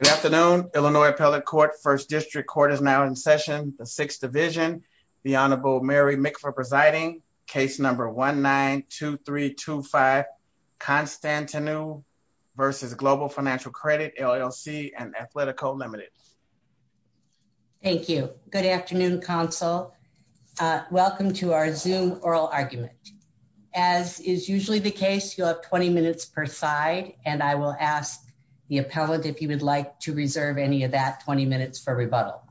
Good afternoon, Illinois Appellate Court. First District Court is now in session, the Sixth Division. The Honorable Mary Mick for presiding. Case number 1-9-2-3-2-5 Constantinou versus Global Financial Credit LLC and Athletico Limited. Thank you. Good afternoon, counsel. Welcome to our Zoom oral argument. As is usually the case, you'll have 20 minutes per side and I will ask the appellant if you would like to reserve any of that 20 minutes for rebuttal.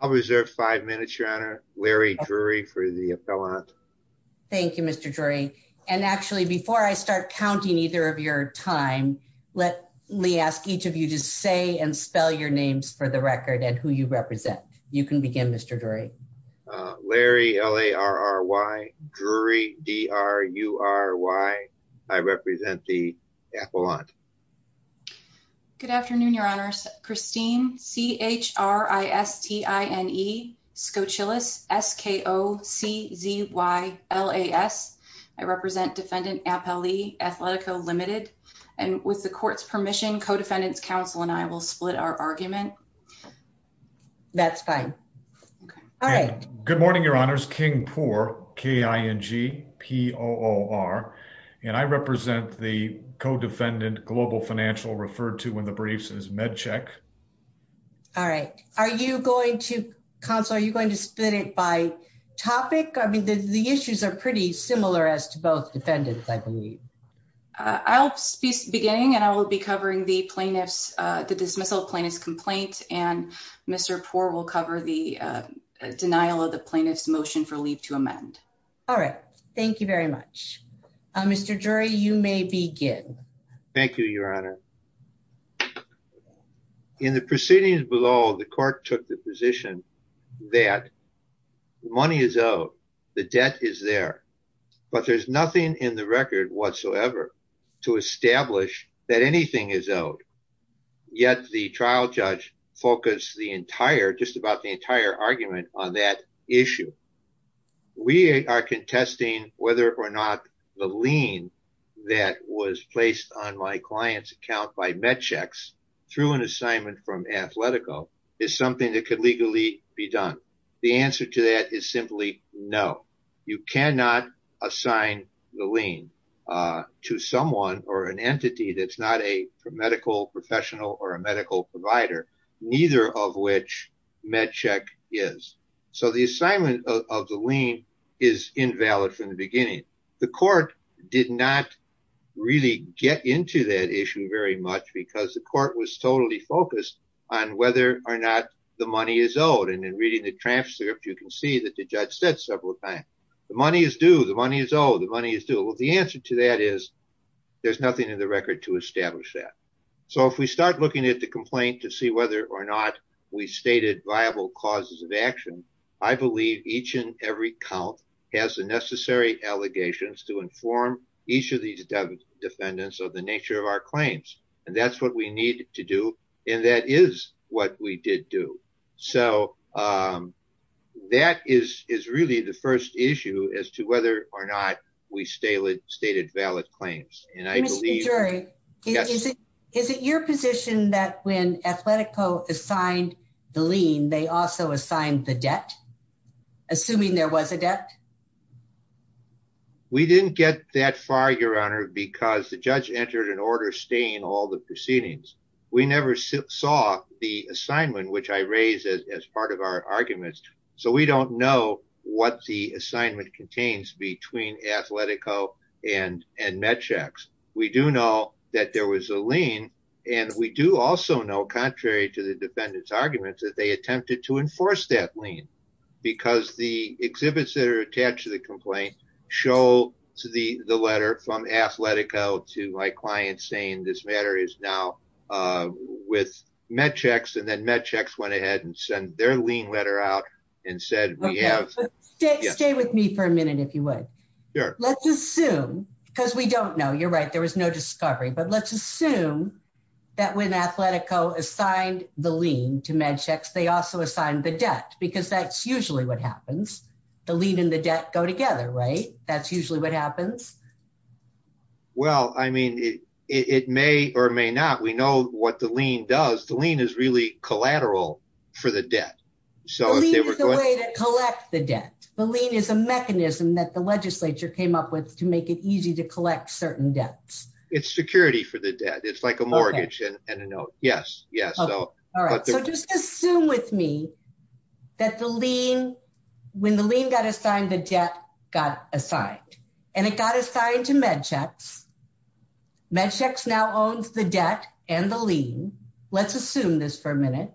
I'll reserve five minutes, Your Honor. Larry Drury for the appellant. Thank you, Mr. Drury. And actually, before I start counting either of your time, let me ask each of you to say and spell your names for the record and who you represent. You can begin, Mr. Drury. Larry, L-A-R-R-Y, Drury, D-R-U-R-Y. I represent the appellant. Good afternoon, Your Honors. Christine, C-H-R-I-S-T-I-N-E, Skoczylas, S-K-O-C-Z-Y-L-A-S. I represent Defendant Appellee, Athletico Limited. And with the court's permission, Codefendant's counsel and I will split our argument. That's fine. All right. Good morning, Your Honors. Kingpoor, K-I-N-G-P-O-O-R. And I represent the codefendant, Global Financial, referred to in the briefs as Medcheck. All right. Are you going to, counsel, are you going to split it by topic? I mean, the issues are pretty similar as to both defendants, I believe. I'll be beginning and I will be covering the plaintiff's, the dismissal plaintiff's complaint and Mr. Poore will cover the denial of the plaintiff's motion for leave to amend. All right. Thank you very much. Mr. Drury, you may begin. Thank you, Your Honor. In the proceedings below, the court took the position that money is owed, the debt is there, but there's nothing in the record whatsoever to establish that anything is owed. Yet the trial judge focused the entire, just about the entire argument on that issue. We are contesting whether or not the lien that was placed on my client's account by Medchecks through an assignment from assign the lien to someone or an entity that's not a medical professional or a medical provider, neither of which Medcheck is. So the assignment of the lien is invalid from the beginning. The court did not really get into that issue very much because the court was totally focused on whether or not the money is owed. And in reading the transcript, you can see that the money is owed, the money is due. The answer to that is there's nothing in the record to establish that. So if we start looking at the complaint to see whether or not we stated viable causes of action, I believe each and every count has the necessary allegations to inform each of these defendants of the nature of our claims. And that's what we need to do. And that is what we did do. So that is really the first issue as to whether or not we stated valid claims. And I believe... Mr. Jury, is it your position that when Athletico assigned the lien, they also assigned the debt, assuming there was a debt? We didn't get that far, Your Honor, because the judge entered an order staying all the proceedings. We never saw the assignment, which I raised as part of our arguments. So we don't know what the assignment contains between Athletico and Medchecks. We do know that there was a lien. And we do also know, contrary to the defendant's arguments, that they attempted to enforce that lien because the exhibits that are attached to the complaint show the letter from Athletico to my client saying this matter is now with Medchecks. And then Medchecks went ahead and sent their lien letter out and said we have... Stay with me for a minute, if you would. Sure. Let's assume, because we don't know, you're right, there was no discovery, but let's assume that when Athletico assigned the lien to Medchecks, they also assigned the debt, because that's usually what happens. The lien and the debt go together, right? That's usually what happens. Well, I mean, it may or may not. We know what the lien does. The lien is really collateral for the debt. The lien is the way to collect the debt. The lien is a mechanism that the legislature came up with to make it easy to collect certain debts. It's security for the debt. It's like a when the lien got assigned, the debt got assigned, and it got assigned to Medchecks. Medchecks now owns the debt and the lien. Let's assume this for a minute.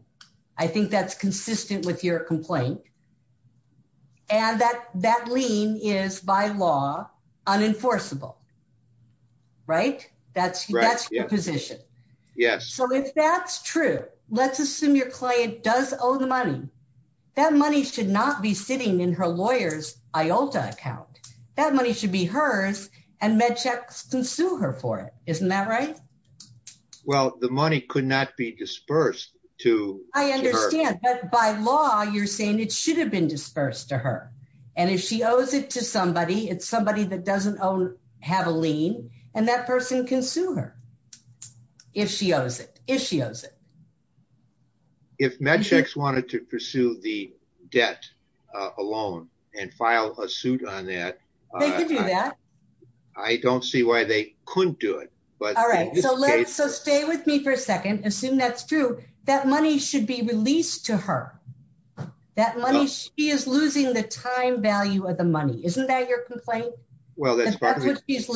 I think that's consistent with your complaint. And that lien is by law unenforceable, right? That's your position. Yes. So if that's true, let's assume your client does owe the money. That money should not be sitting in her lawyer's IOLTA account. That money should be hers, and Medchecks can sue her for it. Isn't that right? Well, the money could not be dispersed to her. I understand, but by law, you're saying it should have been dispersed to her. And if she owes it to somebody, it's somebody that doesn't have a lien, and that person can sue her if she owes it. If Medchecks wanted to pursue the debt alone and file a suit on that, I don't see why they couldn't do it. All right. So stay with me for a second. Assume that's true. That money should be released to her. She is losing the time value of the money. Isn't that your complaint? She is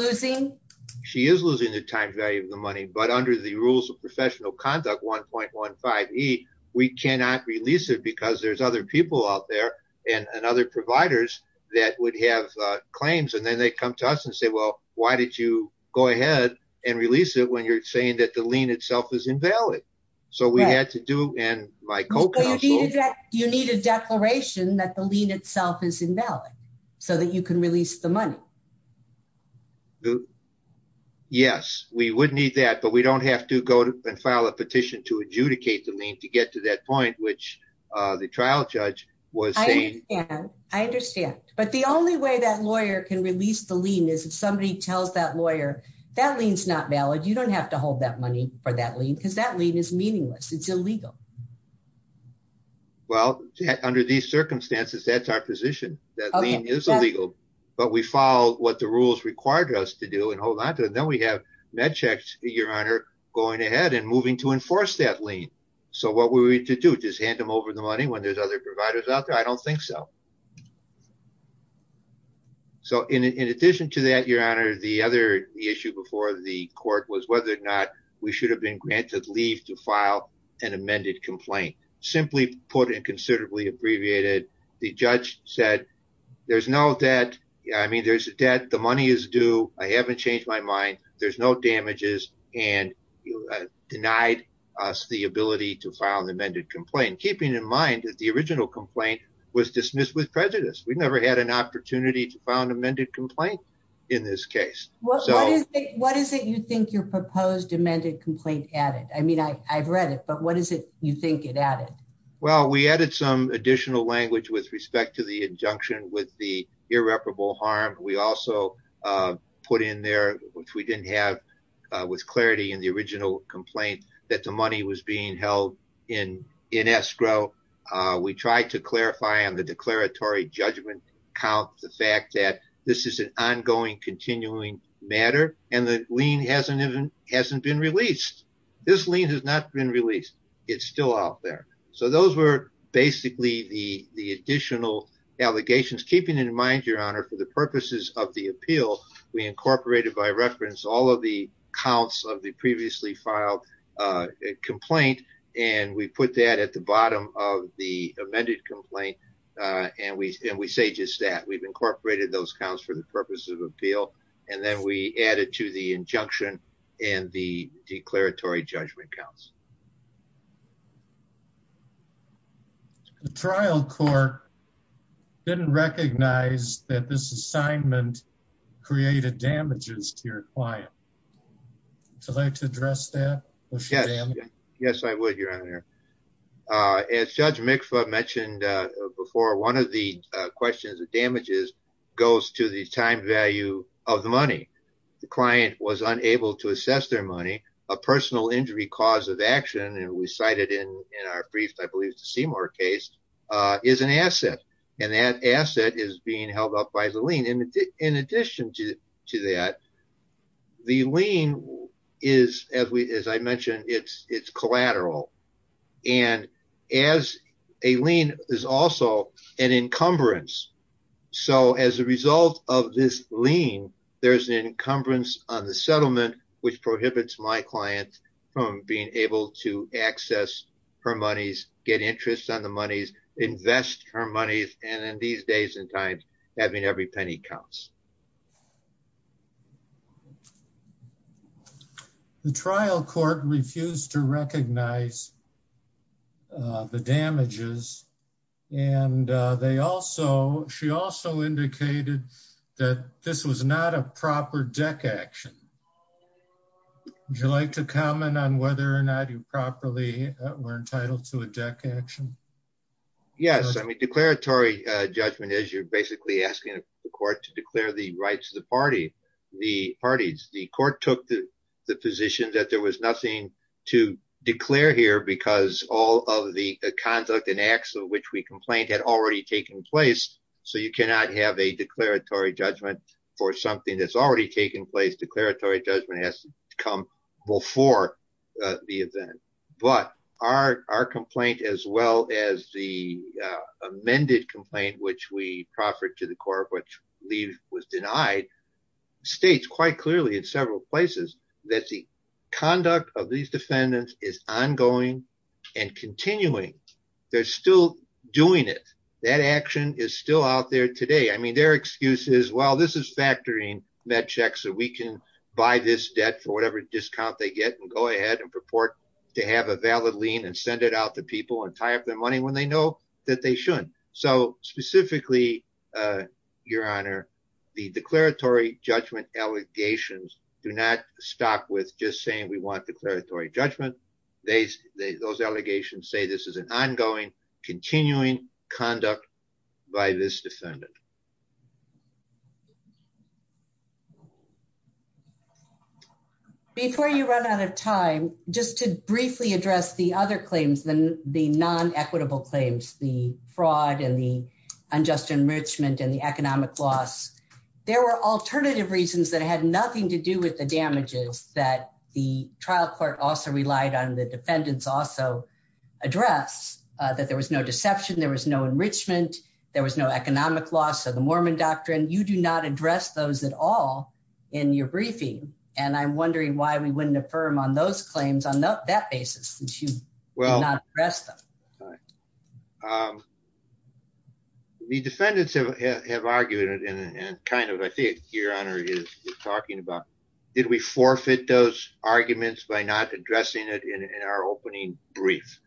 losing the time value of the money, but under the rules of professional conduct 1.15e, we cannot release it because there's other people out there and other providers that would have claims. And then they come to us and say, well, why did you go ahead and release it when you're saying that the lien itself is invalid so that you can release the money? Yes, we would need that, but we don't have to go and file a petition to adjudicate the lien to get to that point, which the trial judge was saying. I understand. But the only way that lawyer can release the lien is if somebody tells that lawyer that lien's not valid. You don't have to hold that money for that lien because that that's our position. That lien is illegal, but we follow what the rules required us to do and hold on to it. Then we have MedCheck, your honor, going ahead and moving to enforce that lien. So what we need to do is hand them over the money when there's other providers out there. I don't think so. So in addition to that, your honor, the other issue before the court was whether or not we should have been granted leave to file an amended complaint. Simply put, and considerably abbreviated, the judge said there's no debt. I mean, there's a debt. The money is due. I haven't changed my mind. There's no damages and denied us the ability to file an amended complaint, keeping in mind that the original complaint was dismissed with prejudice. We've never had an opportunity to file an amended complaint in this case. What is it you think your proposed amended complaint added? I mean, I've read it, but what is it you think it added? Well, we added some additional language with respect to the injunction with the irreparable harm. We also put in there, which we didn't have with clarity in the original complaint, that the money was being held in escrow. We tried to clarify on the declaratory judgment count the fact that this is an ongoing, continuing matter, and the lien hasn't been released. This lien has not been released. Basically, the additional allegations, keeping in mind, your honor, for the purposes of the appeal, we incorporated by reference all of the counts of the previously filed complaint, and we put that at the bottom of the amended complaint, and we say just that. We've incorporated those counts for the purpose of appeal, and then we added to the injunction and the declaratory judgment counts. The trial court didn't recognize that this assignment created damages to your client. Would you like to address that? Yes, I would, your honor. As Judge Mikva mentioned before, one of the questions of damages goes to the time value of the money. The to assess their money, a personal injury cause of action, and we cited in our brief, I believe it's the Seymour case, is an asset, and that asset is being held up by the lien. In addition to that, the lien is, as I mentioned, it's collateral, and as a lien is also an encumbrance, so as a result of this lien, there's an encumbrance on the settlement which prohibits my client from being able to access her monies, get interest on the monies, invest her monies, and in these days and times, having every penny counts. The trial court refused to recognize the damages, and they also, she also indicated that this was not a proper deck action. Would you like to comment on whether or not you properly were entitled to a deck action? Yes, I mean, declaratory judgment is you're basically asking the court to declare the rights of the party, the parties. The court took the position that there was nothing to declare here because all of the conduct and acts of which we complained had already taken place, so you cannot have a declaratory judgment for something that's already taken place. Declaratory judgment has to come before the event, but our complaint as well as the amended complaint which we proffered to the court, which we believe was denied, states quite clearly in several places that the conduct of these defendants is ongoing and continuing. They're still doing it. That action is still out there today. I mean, their excuse is, well, this is factoring that check so we can buy this debt for whatever discount they get and go ahead and purport to have a valid lien and send it out to people and tie up their money when they know that they shouldn't. So specifically, Your Honor, the declaratory judgment allegations do not stop with just saying we want declaratory judgment. Those allegations say this is an ongoing, continuing conduct by this defendant. Before you run out of time, just to briefly address the other claims, the non-equitable claims, the fraud and the unjust enrichment and the economic loss, there were alternative reasons that had nothing to do with the damages that the trial court also relied on, the defendants also address, that there was no deception, there was no enrichment, there was no economic loss, the Mormon doctrine, you do not address those at all in your briefing and I'm wondering why we wouldn't affirm on those claims on that basis since you did not address them. The defendants have argued it and kind of, I think Your Honor is talking about, did we forfeit those arguments by not addressing it in our opening brief?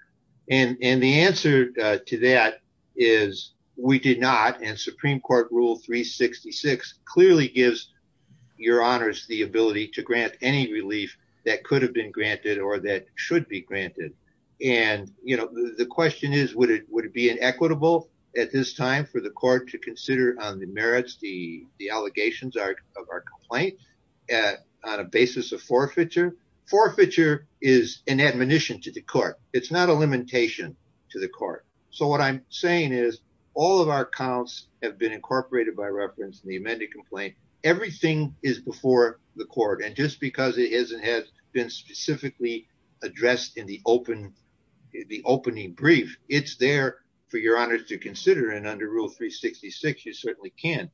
And the answer to that is we did not and Supreme Court Rule 366 clearly gives Your Honors the ability to grant any relief that could have been granted or that should be granted. And the question is, would it be inequitable at this time for the court to consider on the merits, the allegations of our complaint on a basis of forfeiture? Forfeiture is an admonition to the court, it's not a limitation to the court. So what I'm saying is all of our counts have been incorporated by reference in the amended complaint, everything is before the court and just because it has been specifically addressed in the opening brief, it's there for Your Honors to consider and under Rule 366, you certainly can.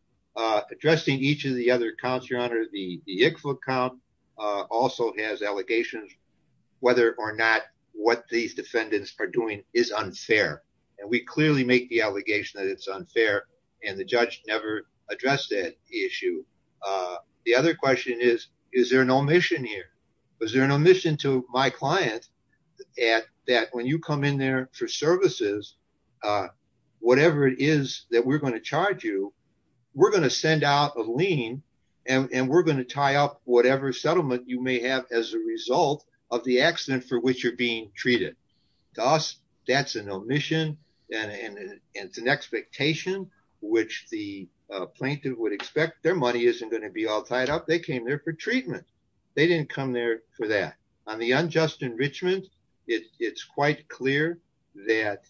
Addressing each of the other counts, Your Honor, the Yickfoot count also has whether or not what these defendants are doing is unfair and we clearly make the allegation that it's unfair and the judge never addressed that issue. The other question is, is there an omission here? Was there an omission to my client that when you come in there for services, whatever it is that we're going to charge you, we're going to send out a lien and we're going to tie up whatever settlement you may have as a result of the accident for which you're being treated. To us, that's an omission and it's an expectation which the plaintiff would expect. Their money isn't going to be all tied up. They came there for treatment. They didn't come there for that. On the unjust enrichment, it's quite clear that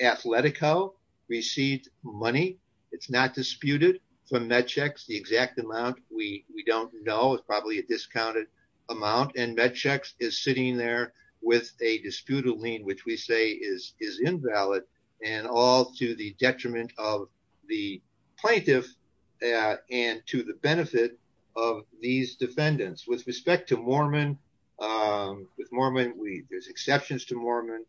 Athletico received money. It's not disputed from Medchex. The exact amount, we don't know. It's probably a discounted amount and Medchex is sitting there with a disputed lien which we say is invalid and all to the detriment of the plaintiff and to the benefit of these defendants. With respect to Mormon, with Mormon, there's exceptions to Mormon,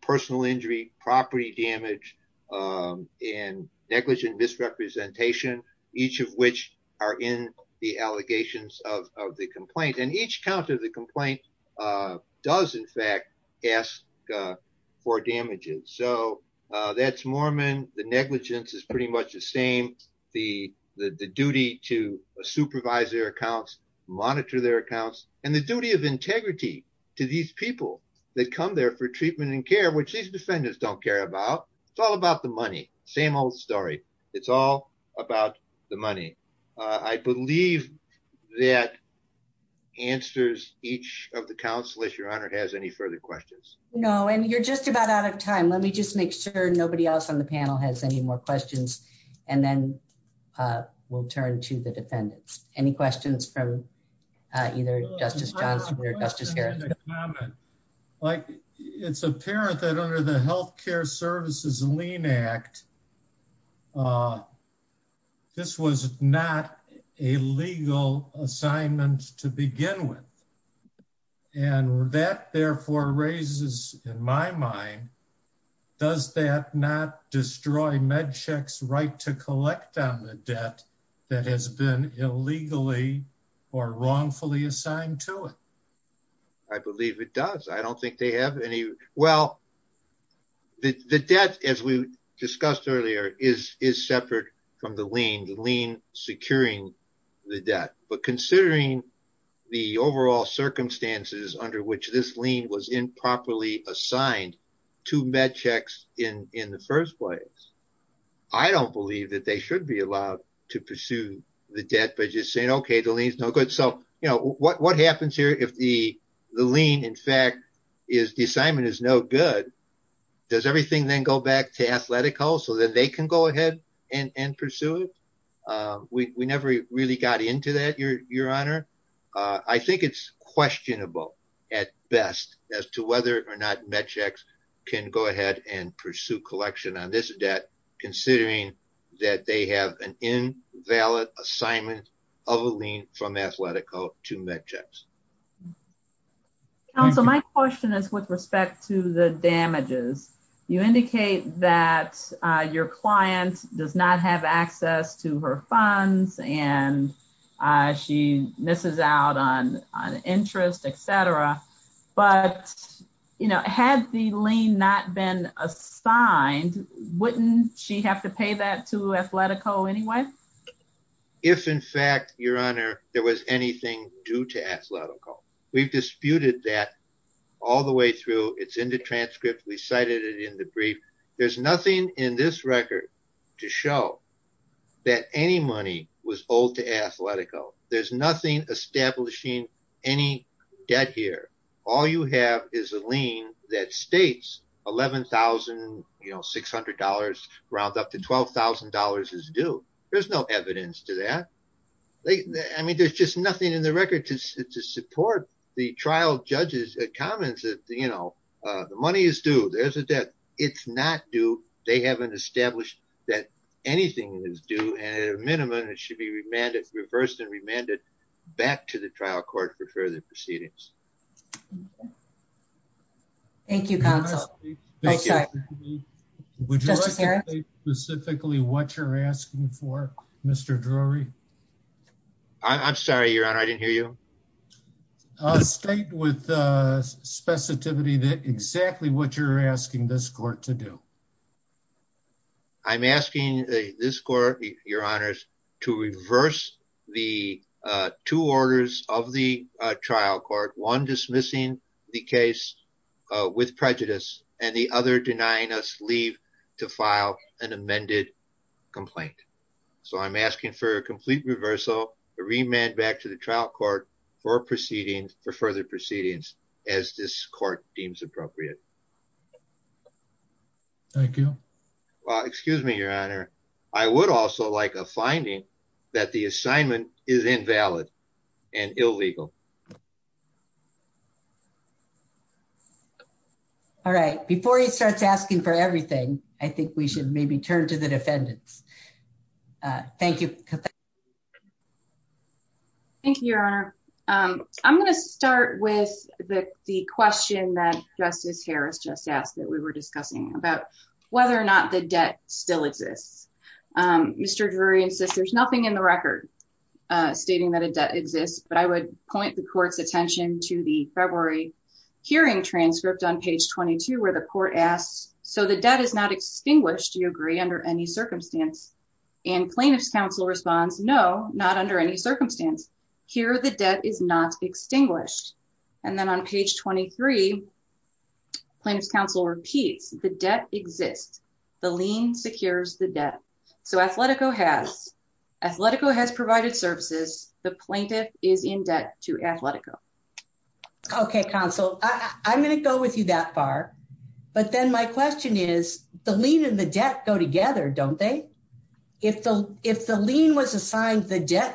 personal injury, property damage, and negligent misrepresentation, each of which are in the allegations of the complaint. Each count of the complaint does, in fact, ask for damages. That's Mormon. The negligence is pretty much the same. The duty to supervise their accounts, monitor their accounts, and the duty of integrity to these people that come there for treatment and care which these defendants don't care about. It's all about the money. Same old story. It's all about the money. I believe that answers each of the counselors. Your Honor, has any further questions? No, and you're just about out of time. Let me just make sure nobody else on the panel has any more questions and then we'll turn to the defendants. Any questions from either Justice Leinach? This was not a legal assignment to begin with, and that therefore raises in my mind, does that not destroy MedCheck's right to collect on the debt that has been illegally or wrongfully assigned to it? I believe it does. I don't think they have any... Well, the debt, as we discussed earlier, is separate from the lien, the lien securing the debt. But considering the overall circumstances under which this lien was improperly assigned to MedCheck's in the first place, I don't believe that they should be allowed to pursue the debt by just saying, okay, the lien's no good. What happens here if the lien, in fact, is the assignment is no good? Does everything then go back to Athletico so that they can go ahead and pursue it? We never really got into that, Your Honor. I think it's questionable at best as to whether or not MedCheck's can go ahead and pursue collection on this debt, considering that they have an invalid assignment of a lien from Athletico to MedCheck's. Counsel, my question is with respect to the damages. You indicate that your client does not have access to her funds and she misses out on interest, et cetera. But had the lien not been assigned, wouldn't she have to pay that to Athletico anyway? If, in fact, Your Honor, there was anything due to Athletico. We've disputed that all the way through. It's in the transcript. We cited it in the brief. There's nothing in this record to show that any money was owed to Athletico. There's nothing establishing any debt here. All you have is a lien that states $11,600 rounds up to $12,000 is due. There's no evidence to that. I mean, there's just nothing in the record to support the trial judge's comments that the money is due. There's a debt. It's not due. They haven't established that anything is due. At a minimum, it should be reversed and remanded back to the trial court for further proceedings. Okay. Thank you, counsel. Would you like to state specifically what you're asking for, Mr. Drury? I'm sorry, Your Honor. I didn't hear you. Uh, state with, uh, specificity that exactly what you're asking this court to do. I'm asking this court, Your Honors, to reverse the, uh, two orders of the, uh, trial court, one dismissing the case, uh, with prejudice and the other denying us leave to file an amended complaint. So I'm asking for a complete reversal, a remand back to the trial court for proceedings for further proceedings as this court deems appropriate. Thank you. Well, excuse me, Your Honor. I would also like a finding that the assignment is invalid and illegal. All right. Before he starts asking for everything, I think we should maybe turn to the defendants. Uh, thank you. Thank you, Your Honor. Um, I'm going to start with the, the question that just is here. We were discussing about whether or not the debt still exists. Um, Mr. Drury insists there's nothing in the record, uh, stating that a debt exists, but I would point the court's attention to the February hearing transcript on page 22, where the court asks, so the debt is not extinguished. Do you agree under any circumstance and plaintiff's counsel responds? No, not under any circumstance here. The debt is not extinguished. And then on page 23 plaintiff's counsel repeats the debt exists. The lien secures the debt. So Athletico has, Athletico has provided services. The plaintiff is in debt to Athletico. Okay. Counsel, I'm going to go with you that far, but then my question is the lien and the debt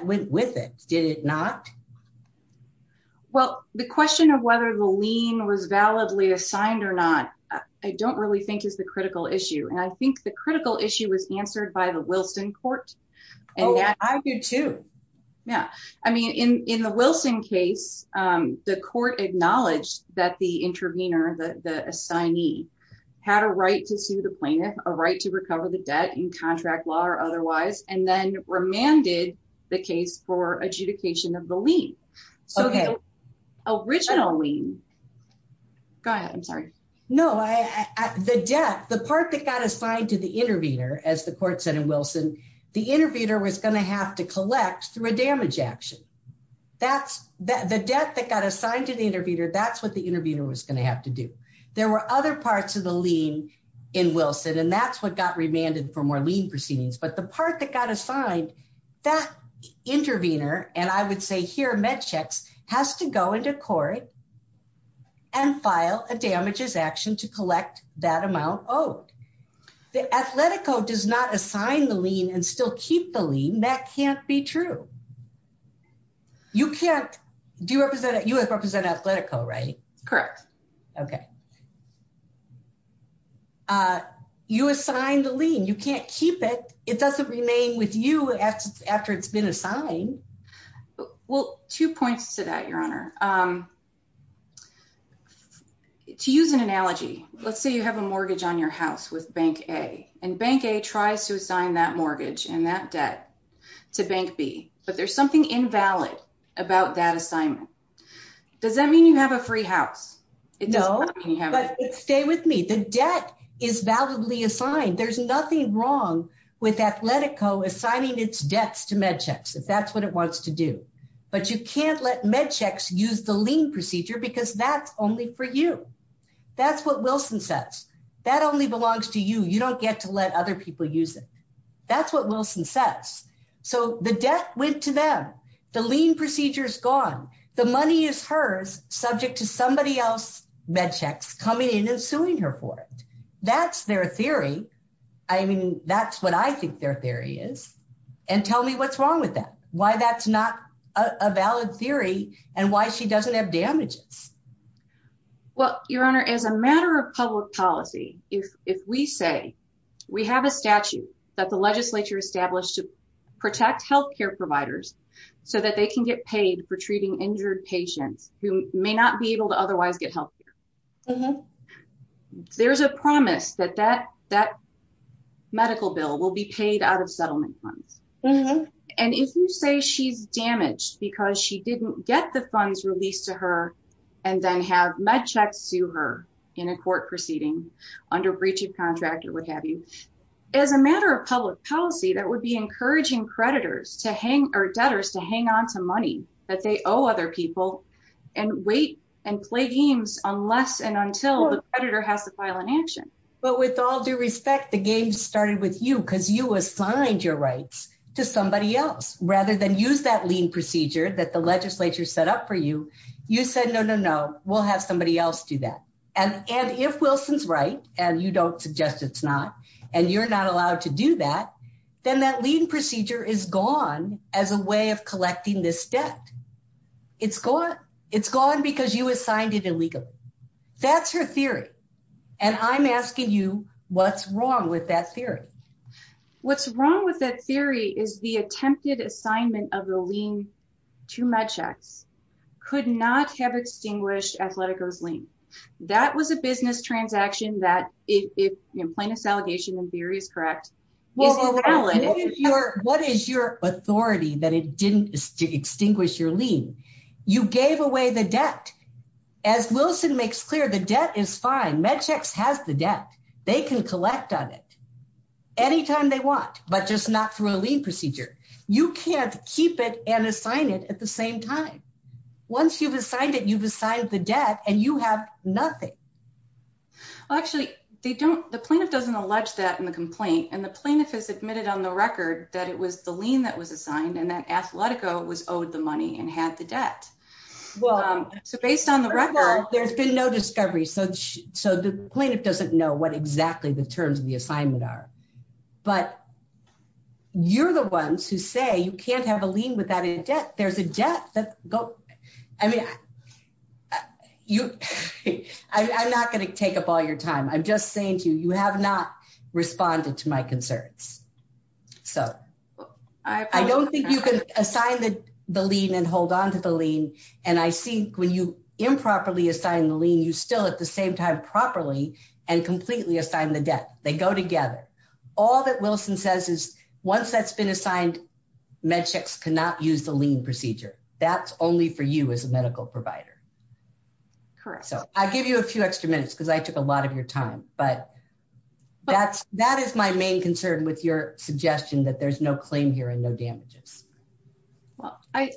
went with it. Did it not? Well, the question of whether the lien was validly assigned or not, I don't really think is the critical issue. And I think the critical issue was answered by the Wilson court. Oh, I do too. Yeah. I mean, in, in the Wilson case, um, the court acknowledged that the intervener, the, the assignee had a right to sue the plaintiff, a right to recover the debt in contract law or otherwise, and then remanded the case for adjudication of the lien. Okay. Original lien. Go ahead. I'm sorry. No, I, I, the debt, the part that got assigned to the intervener, as the court said in Wilson, the intervener was going to have to collect through a damage action. That's the debt that got assigned to the intervener. That's what the intervener was going to have to do. There were other parts of the lien in Wilson, and that's what got remanded for more lien proceedings. But the part that got assigned that intervener, and I would say here, MedChex has to go into court and file a damages action to collect that amount owed. The Athletico does not assign the lien and still keep the lien. That can't be true. You can't, do you represent, you represent Athletico, right? Correct. Okay. You assigned the lien. You can't keep it. It doesn't remain with you after it's been assigned. Well, two points to that, Your Honor. To use an analogy, let's say you have a mortgage on your house with Bank A, and Bank A tries to assign that mortgage and that debt to Bank B, but there's something invalid about that assignment. Does that mean you have a free house? No. It doesn't mean you have a free house. Stay with me. The debt is validly assigned. There's nothing wrong with Athletico assigning its debts to MedChex if that's what it wants to do. But you can't let MedChex use the lien procedure because that's only for you. That's what Wilson says. That only belongs to you. You don't get to let other people use it. That's what Wilson says. So the debt went to them. The debt went to Athletico. That's their theory. I mean, that's what I think their theory is. And tell me what's wrong with that, why that's not a valid theory and why she doesn't have damages. Well, Your Honor, as a matter of public policy, if we say we have a statute that the legislature established to protect healthcare providers so that they can get paid for treating injured patients who may not be able to otherwise get healthcare, there's a promise that that medical bill will be paid out of settlement funds. And if you say she's damaged because she didn't get the funds released to her and then have MedChex sue her in a court proceeding under breach of contract or what have you, as a matter of public policy, that would be encouraging creditors or debtors to hang on to money that they owe other people and wait and play games unless and until the creditor has the file in action. But with all due respect, the game started with you because you assigned your rights to somebody else rather than use that lien procedure that the legislature set up for you. You said, no, no, no, we'll have somebody else do that. And if Wilson's right and you don't suggest it's not and you're not allowed to do that, then that lien procedure is gone as a way of collecting this debt. It's gone because you assigned it illegally. That's her theory. And I'm asking you, what's wrong with that theory? What's wrong with that theory is the attempted assignment of the lien to MedChex could not have extinguished Athletico's lien. That was a business transaction that if plaintiff's allegation and your what is your authority that it didn't extinguish your lien, you gave away the debt. As Wilson makes clear, the debt is fine. MedChex has the debt. They can collect on it anytime they want, but just not through a lien procedure. You can't keep it and assign it at the same time. Once you've assigned it, you've assigned the debt and you have nothing. Well, actually, they don't the plaintiff doesn't allege that in the complaint and the plaintiff has admitted on the record that it was the lien that was assigned and that Athletico was owed the money and had the debt. Well, so based on the record, there's been no discovery. So the plaintiff doesn't know what exactly the terms of the assignment are. But you're the ones who say you can't have a lien without a debt. There's a debt that go. I mean, I'm not going to take up all your time. I'm just saying to you, you have not responded to my concerns. So I don't think you can assign the lien and hold on to the lien. And I see when you improperly assign the lien, you still at the same time properly and completely assign the debt. They go together. All that Wilson says is once that's been assigned, Medchecks cannot use the lien procedure. That's only for you as a medical provider. Correct. So I'll give you a few extra minutes because I took a lot of your time. But that's that is my main concern with your suggestion that there's no claim here and no damages. Well, I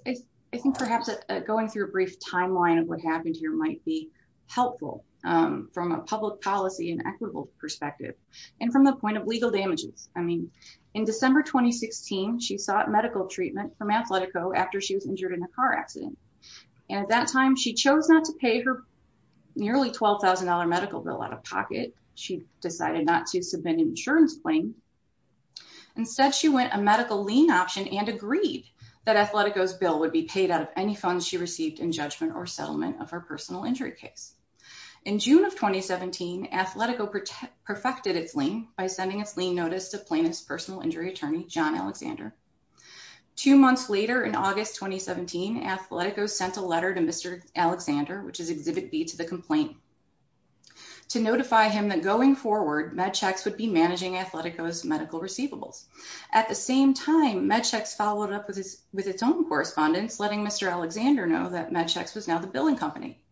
think perhaps going through a brief timeline of what happened here might be helpful from a public policy and equitable perspective. And from the point of legal damages. I mean, in December 2016, she sought medical treatment from Athletico after she was injured in a car accident. And at that time, she chose not to pay her nearly $12,000 medical bill out of pocket. She decided not to submit an insurance claim. Instead, she went a medical lien option and agreed that Athletico's bill would be paid out of any funds she received in judgment or settlement of her personal injury case. In June of 2017, Athletico perfected its lien by sending its lien notice to plaintiff's personal injury attorney, John Alexander. Two months later in August 2017, Athletico sent a letter to Mr. Alexander, which is exhibit B to the complaint to notify him that going forward Medchecks would be managing Athletico's medical receivables. At the same time, Medchecks followed up with his with its own correspondence, letting Mr. Alexander know that Medchecks was now the billing company.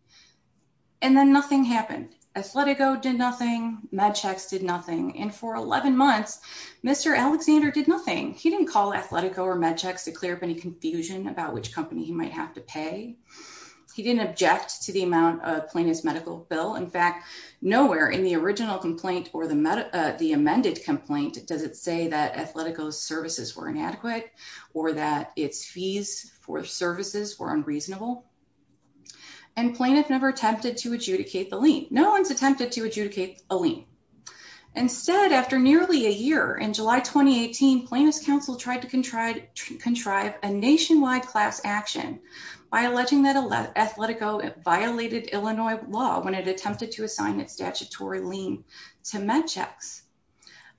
And then nothing happened. Athletico did nothing. Medchecks did nothing. And for 11 months, Mr. Alexander did nothing. He didn't call Athletico or Medchecks to clear up any confusion about which company he might have to pay. He didn't object to the amount of plaintiff's medical bill. In fact, nowhere in the original complaint or the amended complaint does it say that Athletico's services were inadequate or that its fees for services were unreasonable. And plaintiff never attempted to adjudicate the to adjudicate a lien. Instead, after nearly a year in July 2018, plaintiff's counsel tried to contrive a nationwide class action by alleging that Athletico violated Illinois law when it attempted to assign its statutory lien to Medchecks.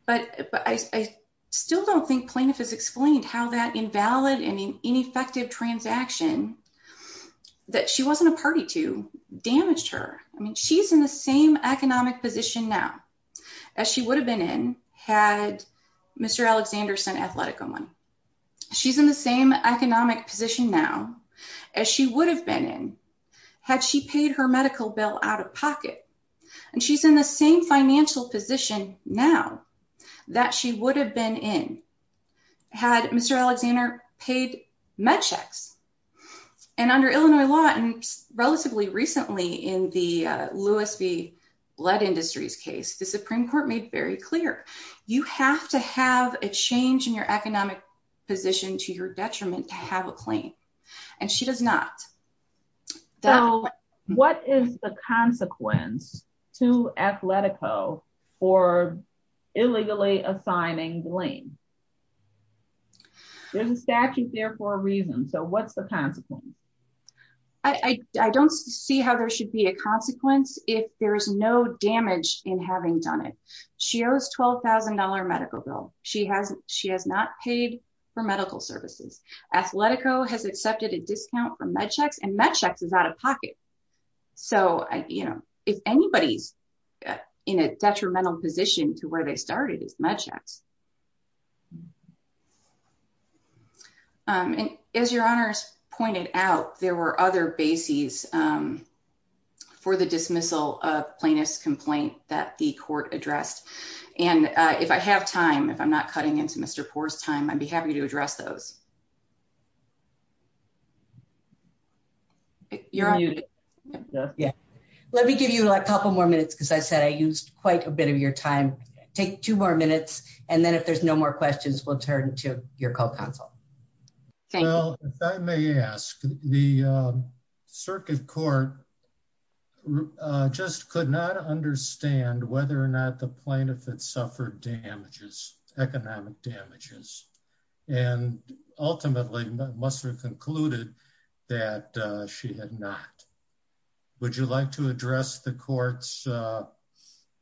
But I still don't think plaintiff has explained how that invalid and ineffective transaction that she wasn't a party to damaged her. I mean, she's in the same economic position now as she would have been in had Mr. Alexander sent Athletico money. She's in the same economic position now as she would have been in had she paid her medical bill out of pocket. And she's in the same financial position now that she would have been in had Mr. Alexander paid Medchecks. And under Illinois law, relatively recently in the Lewis v. Blood Industries case, the Supreme Court made very clear, you have to have a change in your economic position to your detriment to have a claim. And she does not. So what is the consequence to Athletico for illegally assigning blame? There's a statute there for a reason. So what's the consequence? I don't see how there should be a consequence if there's no damage in having done it. She owes $12,000 medical bill. She has not paid for medical services. Athletico has accepted a discount for Medchecks and Medchecks is out of pocket. So if anybody's in a detrimental position to where they started is Medchecks. And as your honors pointed out, there were other bases for the dismissal of plaintiff's complaint that the court addressed. And if I have time, if I'm not cutting into Mr. Poore's time, I'd be happy to address those. Yeah, let me give you a couple more minutes because I said I used quite a bit of your time. Take two more minutes. And then if there's no more questions, we'll turn to your call counsel. Well, if I may ask, the circuit court just could not understand whether or not the plaintiff had suffered damages, economic damages, and ultimately must have concluded that she had not. Would you like to address the court's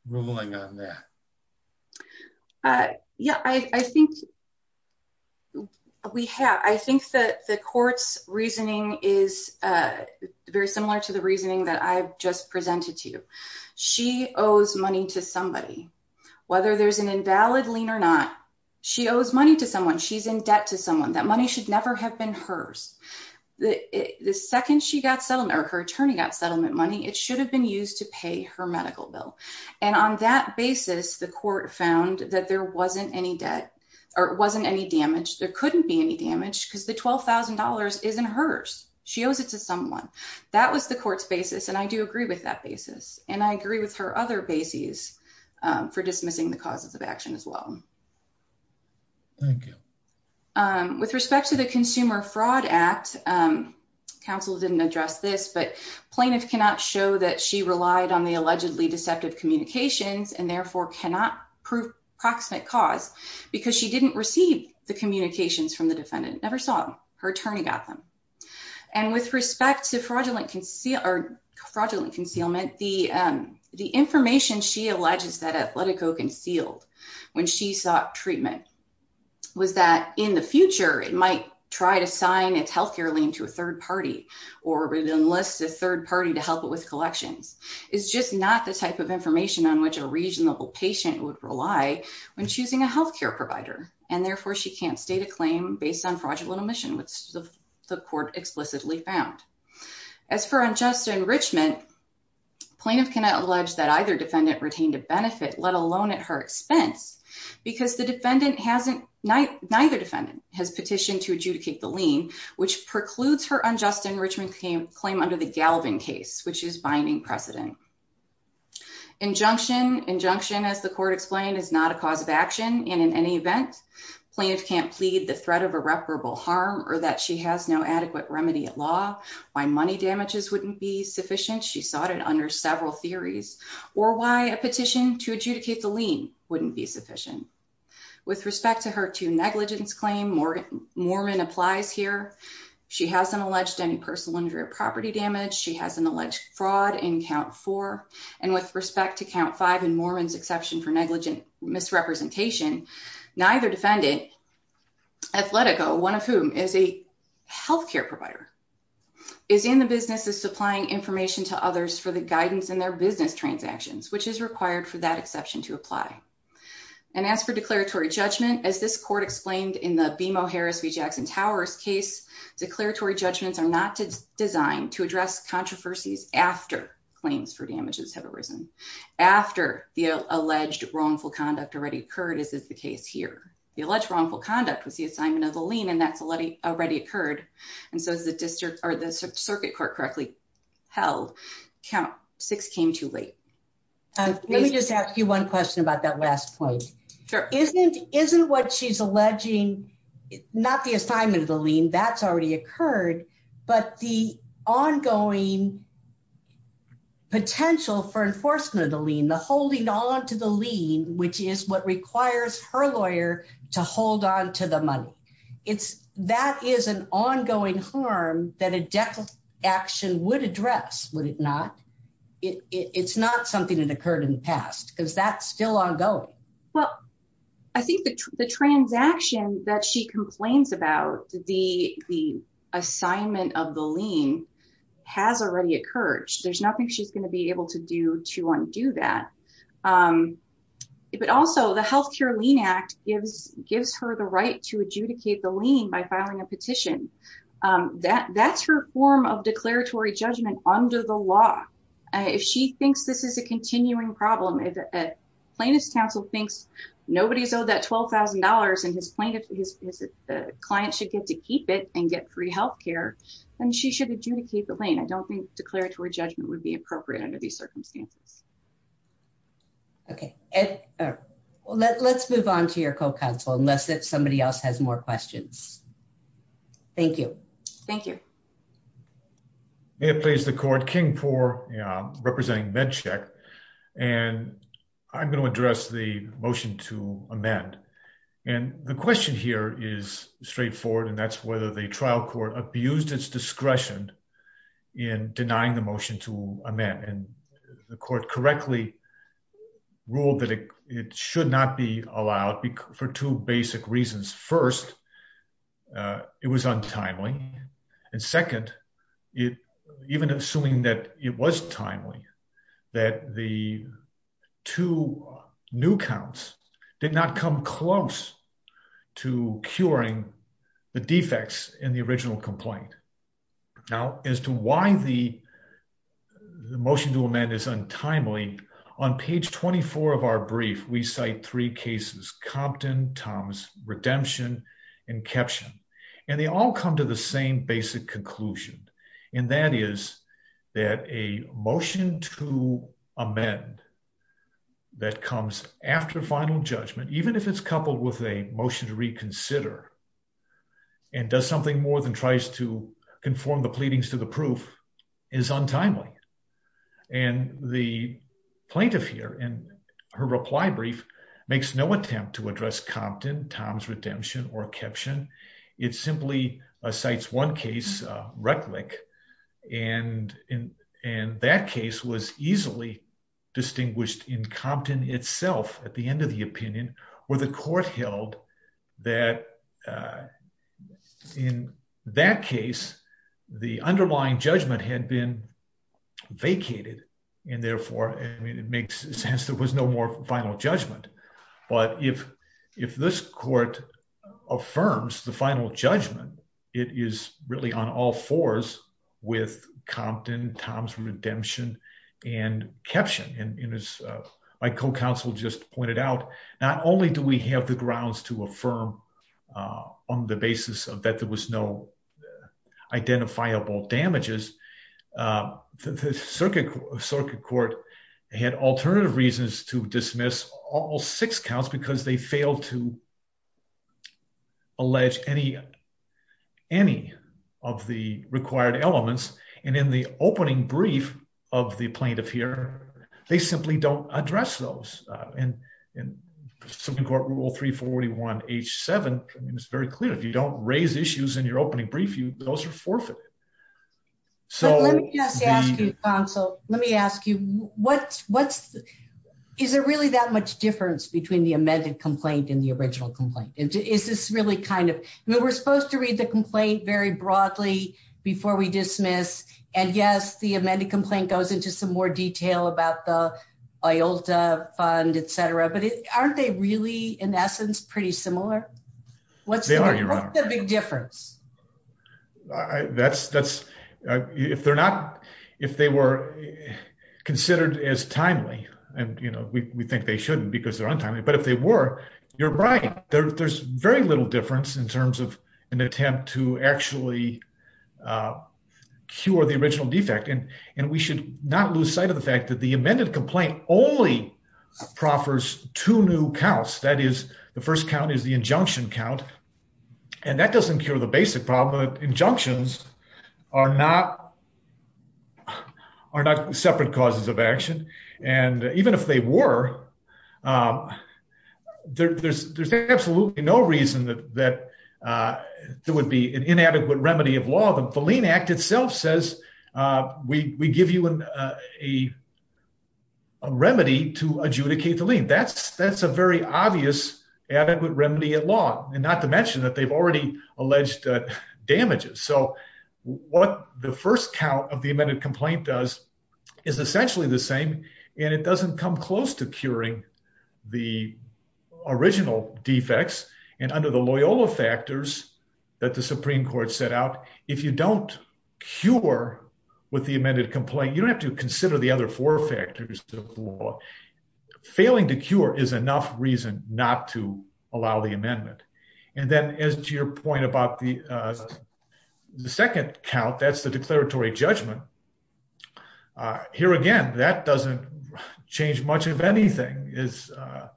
ruling on that? Yeah, I think we have. I think that the court's reasoning is very similar to the reasoning that I've just presented to you. She owes money to somebody. Whether there's an invalid lien or not, she owes money to someone. She's in debt to someone. That money should never have been hers. The second she got settled or her attorney got settlement money, it should have been used to pay her medical bill. And on that basis, the court found that there wasn't any debt or it wasn't any damage. There couldn't be any damage because the $12,000 isn't hers. She owes it to someone. That was the court's basis. And I do agree with that basis. And I agree with her other bases for dismissing the causes of action as well. Thank you. With respect to the Consumer Fraud Act, counsel didn't address this, but plaintiff cannot show that she relied on the allegedly deceptive communications and therefore cannot prove proximate cause because she didn't receive the communications from the defendant, never saw them. Her attorney got them. And with respect to fraudulent concealment, the information she alleges that Atletico concealed when she sought treatment was that in the future, it might try to sign its healthcare lien to a third party or enlist a third party to help it with collections. It's just not the type of information on which a reasonable patient would rely when choosing a healthcare provider. And therefore she can't state a claim based on fraudulent omission, which the court explicitly found. As for unjust enrichment, plaintiff cannot allege that either defendant retained a benefit, let alone at her expense, because the defendant hasn't, neither defendant has petitioned to adjudicate the lien, which precludes her unjust enrichment claim under the Galvin case, which is binding precedent. Injunction, injunction as the court explained is not a cause of action. And in any event, plaintiff can't plead the threat of irreparable harm or that she has no adequate remedy at law. Why money damages wouldn't be sufficient. She sought it under several theories or why a petition to adjudicate the lien wouldn't be sufficient. With respect to her two negligence claim, Mormon applies here. She hasn't alleged any personal injury or property damage. She has an alleged fraud in count four. And with respect to count five and Mormon's exception for negligent misrepresentation, neither defendant, Athletico, one of whom is a healthcare provider, is in the business of supplying information to others for the guidance in their business transactions, which is required for that exception to apply. And as for declaratory judgment, as this court explained in the BMO Harris v. Jackson Towers case, declaratory judgments are not designed to address controversies after claims for damages have arisen, after the alleged wrongful conduct already occurred, as is the case here. The alleged wrongful conduct was the assignment of the lien and that's already occurred. And so as the district or the circuit court correctly held, count six came too late. Let me just ask you one question about that last point. Sure. Isn't what she's alleging, not the assignment of the lien, that's already occurred, but the ongoing potential for enforcement of the lien, the holding on to the lien, which is what requires her lawyer to hold on to the money. That is an ongoing harm that a death action would address, would it not? It's not something that occurred in the past because that's still ongoing. Well, I think the transaction that she complains about, the assignment of the lien, has already occurred. There's nothing she's going to be able to do to undo that. But also the Health Care Lien Act gives her the right to adjudicate the lien by filing a petition. That's her form of declaratory judgment under the law. If she thinks this is a plaintiff's counsel thinks nobody's owed that $12,000 and the client should get to keep it and get free health care, then she should adjudicate the lien. I don't think declaratory judgment would be appropriate under these circumstances. Okay. Let's move on to your co-counsel unless somebody else has more questions. Thank you. Thank you. May it please the court, King for representing MedCheck. I'm going to address the motion to amend. The question here is straightforward. That's whether the trial court abused its discretion in denying the motion to amend. The court correctly ruled that it should not be allowed for two basic reasons. First, uh, it was untimely. And second, it even assuming that it was timely, that the two new counts did not come close to curing the defects in the original complaint. Now as to why the motion to amend is untimely on page 24 of our brief, we cite three cases, Compton, Thomas, Redemption, and Keptchen, and they all come to the same basic conclusion. And that is that a motion to amend that comes after final judgment, even if it's coupled with a motion to reconsider and does something more than tries to conform the pleadings to the proof is untimely. And the plaintiff here in her reply brief makes no attempt to address Compton, Thomas, Redemption, or Keptchen. It simply cites one case, uh, Rettlich, and in, and that case was easily distinguished in Compton itself at the end of the opinion where the court held that, uh, in that case, the underlying judgment had been vacated. And therefore, I mean, it makes sense there was no more final judgment. But if, if this court affirms the final judgment, it is really on all fours with Compton, Thomas, Redemption, and Keptchen. And as my co-counsel just pointed out, not only do we have the grounds to affirm, uh, on the basis of that, there was no identifiable damages. Uh, the circuit, circuit court had alternative reasons to dismiss all six counts because they failed to allege any, any of the required elements. And in the opening brief of the plaintiff here, they simply don't address those. Uh, and, and Supreme court rule three 41 H seven, it was very clear. If you don't raise issues in your opening brief, you, those are forfeited. So let me ask you, what's, what's, is there really that much difference between the amended complaint and the original complaint? Is this really kind of, I mean, we're supposed to read the complaint very broadly before we dismiss. And yes, the amended complaint goes into some more detail about the IOLTA fund, et cetera, but aren't they really in essence, pretty similar? What's the big difference? Uh, that's, that's, uh, if they're not, if they were considered as timely and you know, we, we think they shouldn't because they're an attempt to actually, uh, cure the original defect. And, and we should not lose sight of the fact that the amended complaint only proffers two new counts. That is the first count is the injunction count. And that doesn't cure the basic problem that injunctions are not, are not separate causes of action. And even if they were, um, there there's, there's absolutely no reason that, that, uh, there would be an inadequate remedy of law. The lien act itself says, uh, we, we give you an, uh, a, a remedy to adjudicate the lien. That's, that's a very obvious adequate remedy at law and not to mention that they've already alleged damages. So what the first count of the amended complaint does is essentially the same, and it doesn't come close to curing the original defects and under the Loyola factors that the Supreme court set out. If you don't cure with the amended complaint, you don't have to consider the other four factors of the law. Failing to cure is enough reason not to allow the amendment. And then as to your point about the, uh, the second count, that's the declaratory judgment. Uh, here again, that doesn't change much of anything is, uh,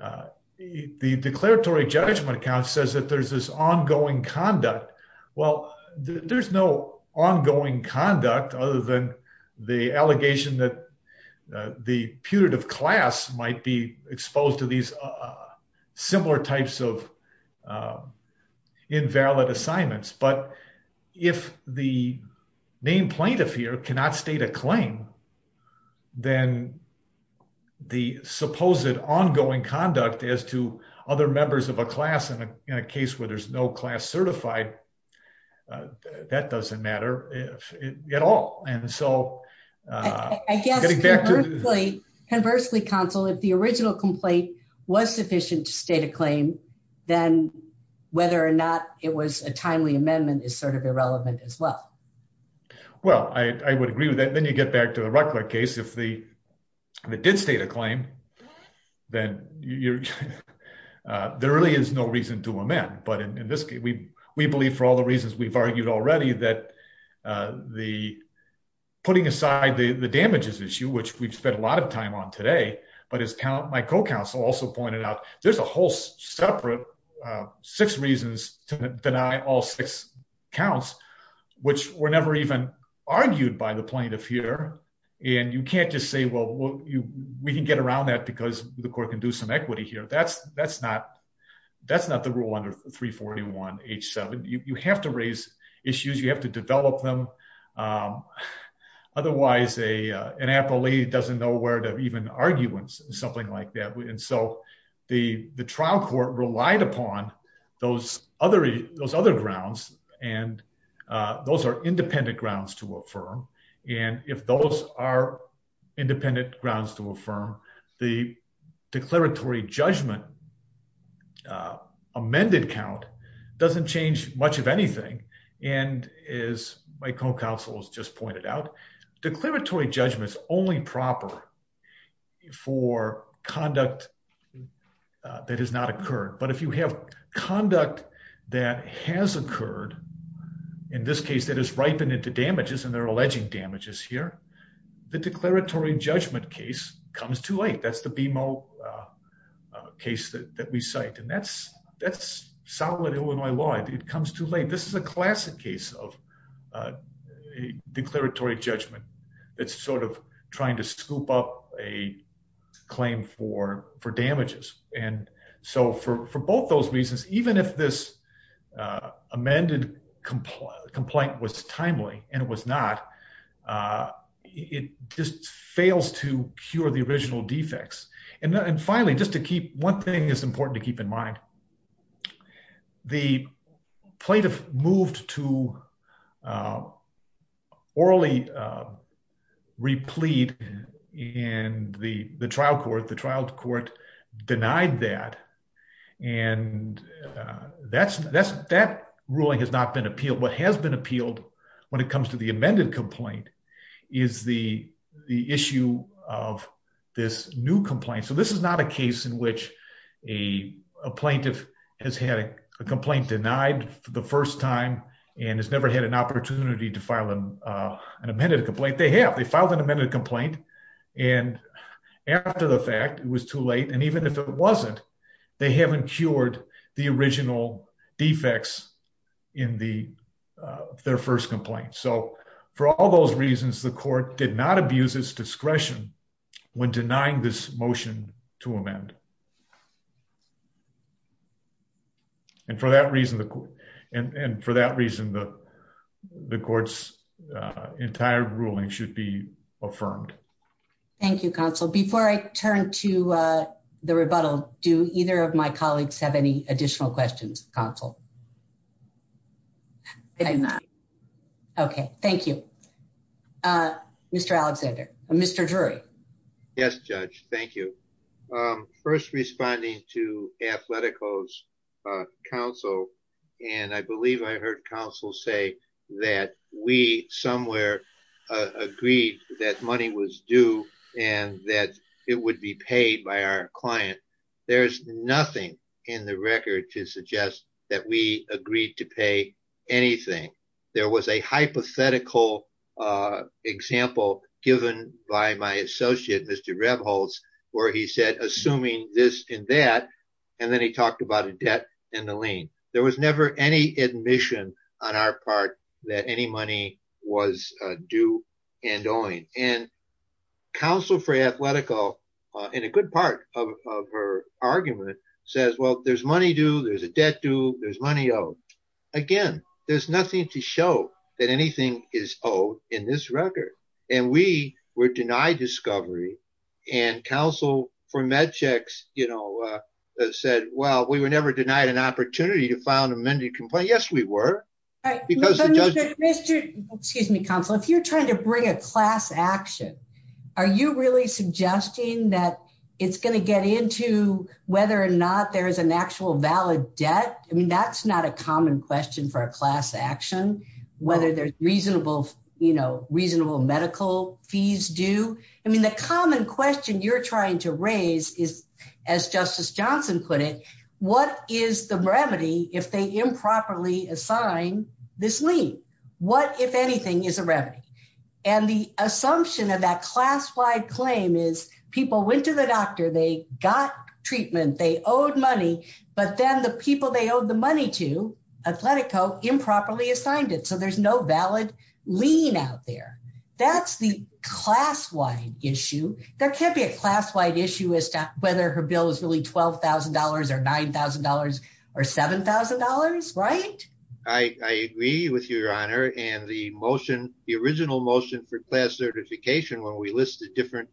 uh, the declaratory judgment account says that there's this ongoing conduct. Well, there's no ongoing conduct other than the allegation that, uh, the putative class might be exposed to these, uh, similar types of, um, invalid assignments. But if the main plaintiff here cannot state a claim, then the supposed ongoing conduct as to other members of a class in a, in a case where there's no class certified, uh, that doesn't matter at all. And so, uh, I guess conversely council, if the original complaint was sufficient to state a claim, then whether or not it was a timely amendment is sort of irrelevant as well. Well, I, I would agree with that. Then you get back to the Ruckler case. If the, if it did state a claim, then you're, uh, there really is no reason to amend. But in this case, we, we believe for all the reasons we've argued already that, uh, the putting aside the damages issue, which we've spent a lot of time on today, but as talent, my co-counsel also pointed out, there's a whole separate, uh, six reasons to deny all six counts, which were never even argued by the plaintiff here. And you can't just say, well, we can get around that because the court can do some equity here. That's, that's not, that's not the rule under 341 H seven. You have to raise issues. You have to develop them. Um, otherwise a, uh, an appellee doesn't know where to even arguments and something like that. And so the, the trial court relied upon those other, those other grounds. And, uh, those are independent grounds to affirm. And if those are independent grounds to affirm the declaratory judgment, uh, amended count doesn't change much of for conduct, uh, that has not occurred. But if you have conduct that has occurred in this case, that is ripened into damages and they're alleging damages here, the declaratory judgment case comes too late. That's the BMO, uh, uh, case that, that we cite and that's, that's solid Illinois law. It comes too late. This is a classic case of, uh, uh, declaratory judgment. It's sort of trying to scoop up a claim for, for damages. And so for, for both those reasons, even if this, uh, amended complaint complaint was timely and it was not, uh, it just fails to cure the original defects. And then, and finally, just to keep one thing is important to keep in replete and the trial court, the trial court denied that. And, uh, that's, that's, that ruling has not been appealed. What has been appealed when it comes to the amended complaint is the, the issue of this new complaint. So this is not a case in which a plaintiff has had a complaint denied for the first time and has never had an opportunity to file an, uh, an amended complaint. They have, they filed an amended complaint. And after the fact it was too late. And even if it wasn't, they haven't cured the original defects in the, uh, their first complaint. So for all those reasons, the court did not abuse its discretion when denying this motion to amend. And for that reason, and for that reason, the, the courts, uh, entire ruling should be affirmed. Thank you. Counsel, before I turn to, uh, the rebuttal, do either of my colleagues have any additional questions? Counsel? Okay. Thank you. Uh, Mr. Alexander, Mr. Drury. Yes, judge. Thank you. Um, first responding to Athletico's, uh, counsel, and I believe I heard counsel say that we somewhere agreed that money was due and that it would be paid by our client. There's nothing in the record to suggest that we agreed to pay anything. There was a hypothetical, uh, example given by my assuming this and that, and then he talked about a debt and the lien. There was never any admission on our part that any money was due and owing. And counsel for Athletico, uh, in a good part of her argument says, well, there's money due, there's a debt due, there's money owed. Again, there's nothing to show that anything is owed in this record. And we were denied discovery and counsel for MedChex, you know, uh, said, well, we were never denied an opportunity to file an amended complaint. Yes, we were because the judge, excuse me, counsel, if you're trying to bring a class action, are you really suggesting that it's going to get into whether or not there is an actual valid debt? I mean, that's not a common question for a class action, whether there's reasonable, you know, reasonable medical fees due. I mean, the common question you're trying to raise is, as Justice Johnson put it, what is the remedy if they improperly assign this lien? What, if anything, is a remedy? And the assumption of that class-wide claim is people went to the doctor, they got the money to Atletico, improperly assigned it. So there's no valid lien out there. That's the class-wide issue. There can't be a class-wide issue as to whether her bill is really $12,000 or $9,000 or $7,000, right? I agree with you, Your Honor. And the motion, the original motion for class certification, where we listed different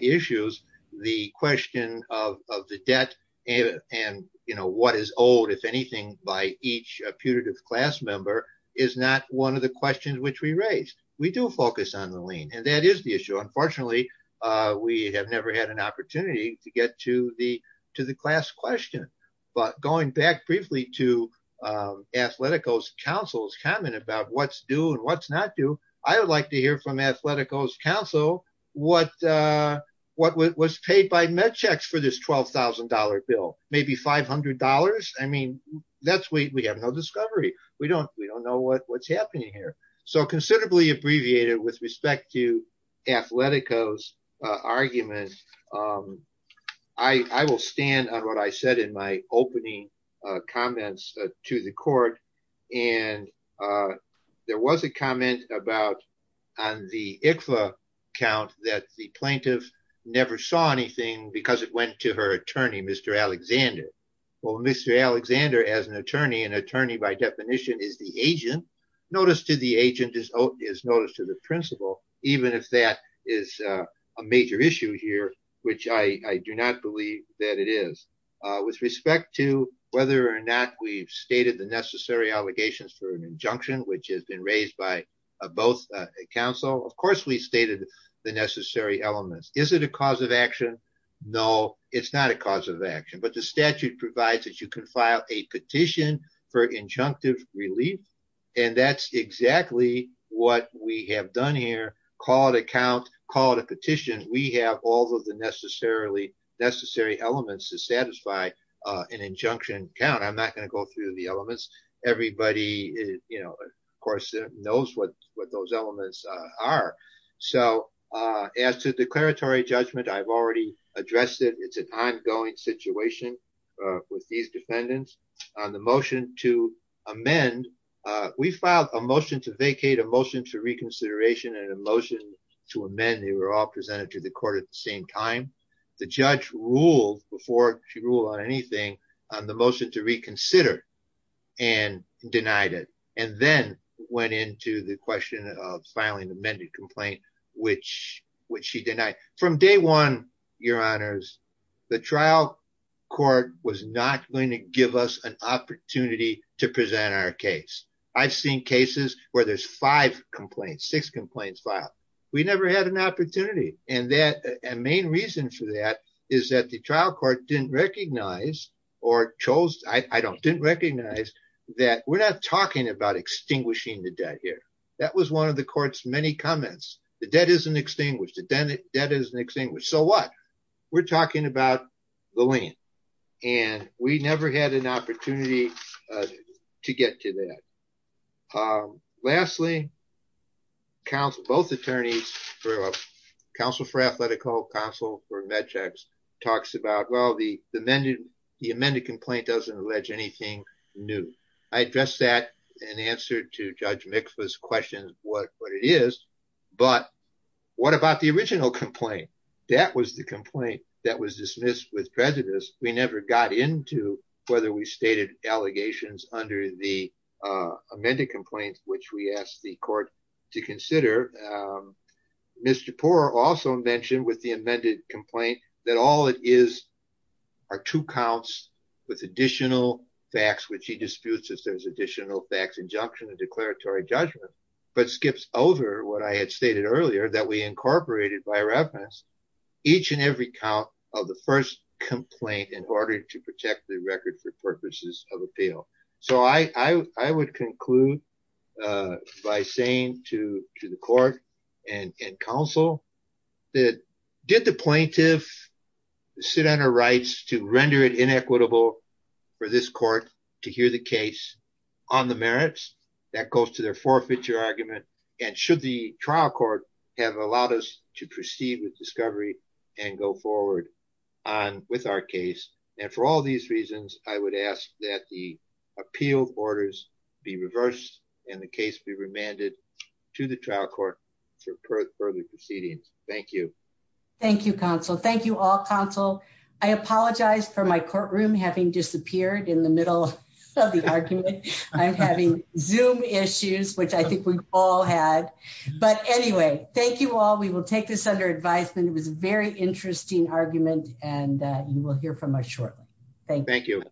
issues, the question of the debt and, you know, what is owed, if anything, by each putative class member is not one of the questions which we raised. We do focus on the lien, and that is the issue. Unfortunately, we have never had an opportunity to get to the class question. But going back briefly to Atletico's counsel's comment about what's due and what's not due, I would like to hear from Atletico's counsel what was paid by this $12,000 bill, maybe $500? I mean, we have no discovery. We don't know what's happening here. So considerably abbreviated with respect to Atletico's argument, I will stand on what I said in my opening comments to the court. And there was a comment about on the ICFA count that the plaintiff never saw anything because it went to her attorney, Mr. Alexander. Well, Mr. Alexander, as an attorney, an attorney by definition is the agent. Notice to the agent is notice to the principal, even if that is a major issue here, which I do not believe that it is. With respect to whether or not we've stated the necessary allegations for an injunction, which has been raised by both counsel, of course we stated the necessary elements. Is it a cause of action? No, it's not a cause of action. But the statute provides that you can file a petition for injunctive relief. And that's exactly what we have done here. Call it a count, call it a petition. We have all of the necessary elements to satisfy an injunction count. I'm not going to go through the elements. Everybody, you know, of course knows what those elements are. So as to declaratory judgment, I've already addressed it. It's an ongoing situation with these defendants. On the motion to amend, we filed a motion to vacate, a motion to reconsideration, and a motion to amend. They were all presented to the court at the same time. The judge ruled before she ruled on anything on the motion to reconsider and denied it. And then went into the question of filing an amended complaint, which she denied. From day one, your honors, the trial court was not going to give us an opportunity to present our case. I've seen cases where there's five complaints, six complaints filed. We never had an opportunity. And the main reason for that is that the trial court didn't recognize or chose, I don't, didn't recognize that we're not talking about extinguishing the debt here. That was one of the court's many comments. The debt isn't extinguished. The debt isn't extinguished. So what? We're talking about the lien. And we never had an opportunity to get to that. Lastly, counsel, both attorneys for counsel for athletical counsel for med checks talks about, well, the, the amended, the amended complaint doesn't allege anything new. I addressed that and answered to judge McPherson's questions. What, what it is, but what about the original complaint? That was the complaint that was dismissed with prejudice. We never got into whether we stated allegations under the amended complaints, which we asked the court to consider. Mr. Poore also mentioned with the amended complaint that all it is are two counts with additional facts, which he disputes as there's additional facts, injunction, a declaratory judgment, but skips over what I had stated earlier that we incorporated by reference each and every count of the first complaint in order to protect the record for purposes of and counsel that did the plaintiff sit on her rights to render it inequitable for this court to hear the case on the merits that goes to their forfeiture argument. And should the trial court have allowed us to proceed with discovery and go forward on with our case. And for all these reasons, I would ask that the appeal orders be reversed and the case be remanded to the trial court for further proceedings. Thank you. Thank you counsel. Thank you all counsel. I apologize for my courtroom having disappeared in the middle of the argument. I'm having zoom issues, which I think we've all had, but anyway, thank you all. We will take this under advisement. It was very interesting argument and you will hear from us shortly. Thank you.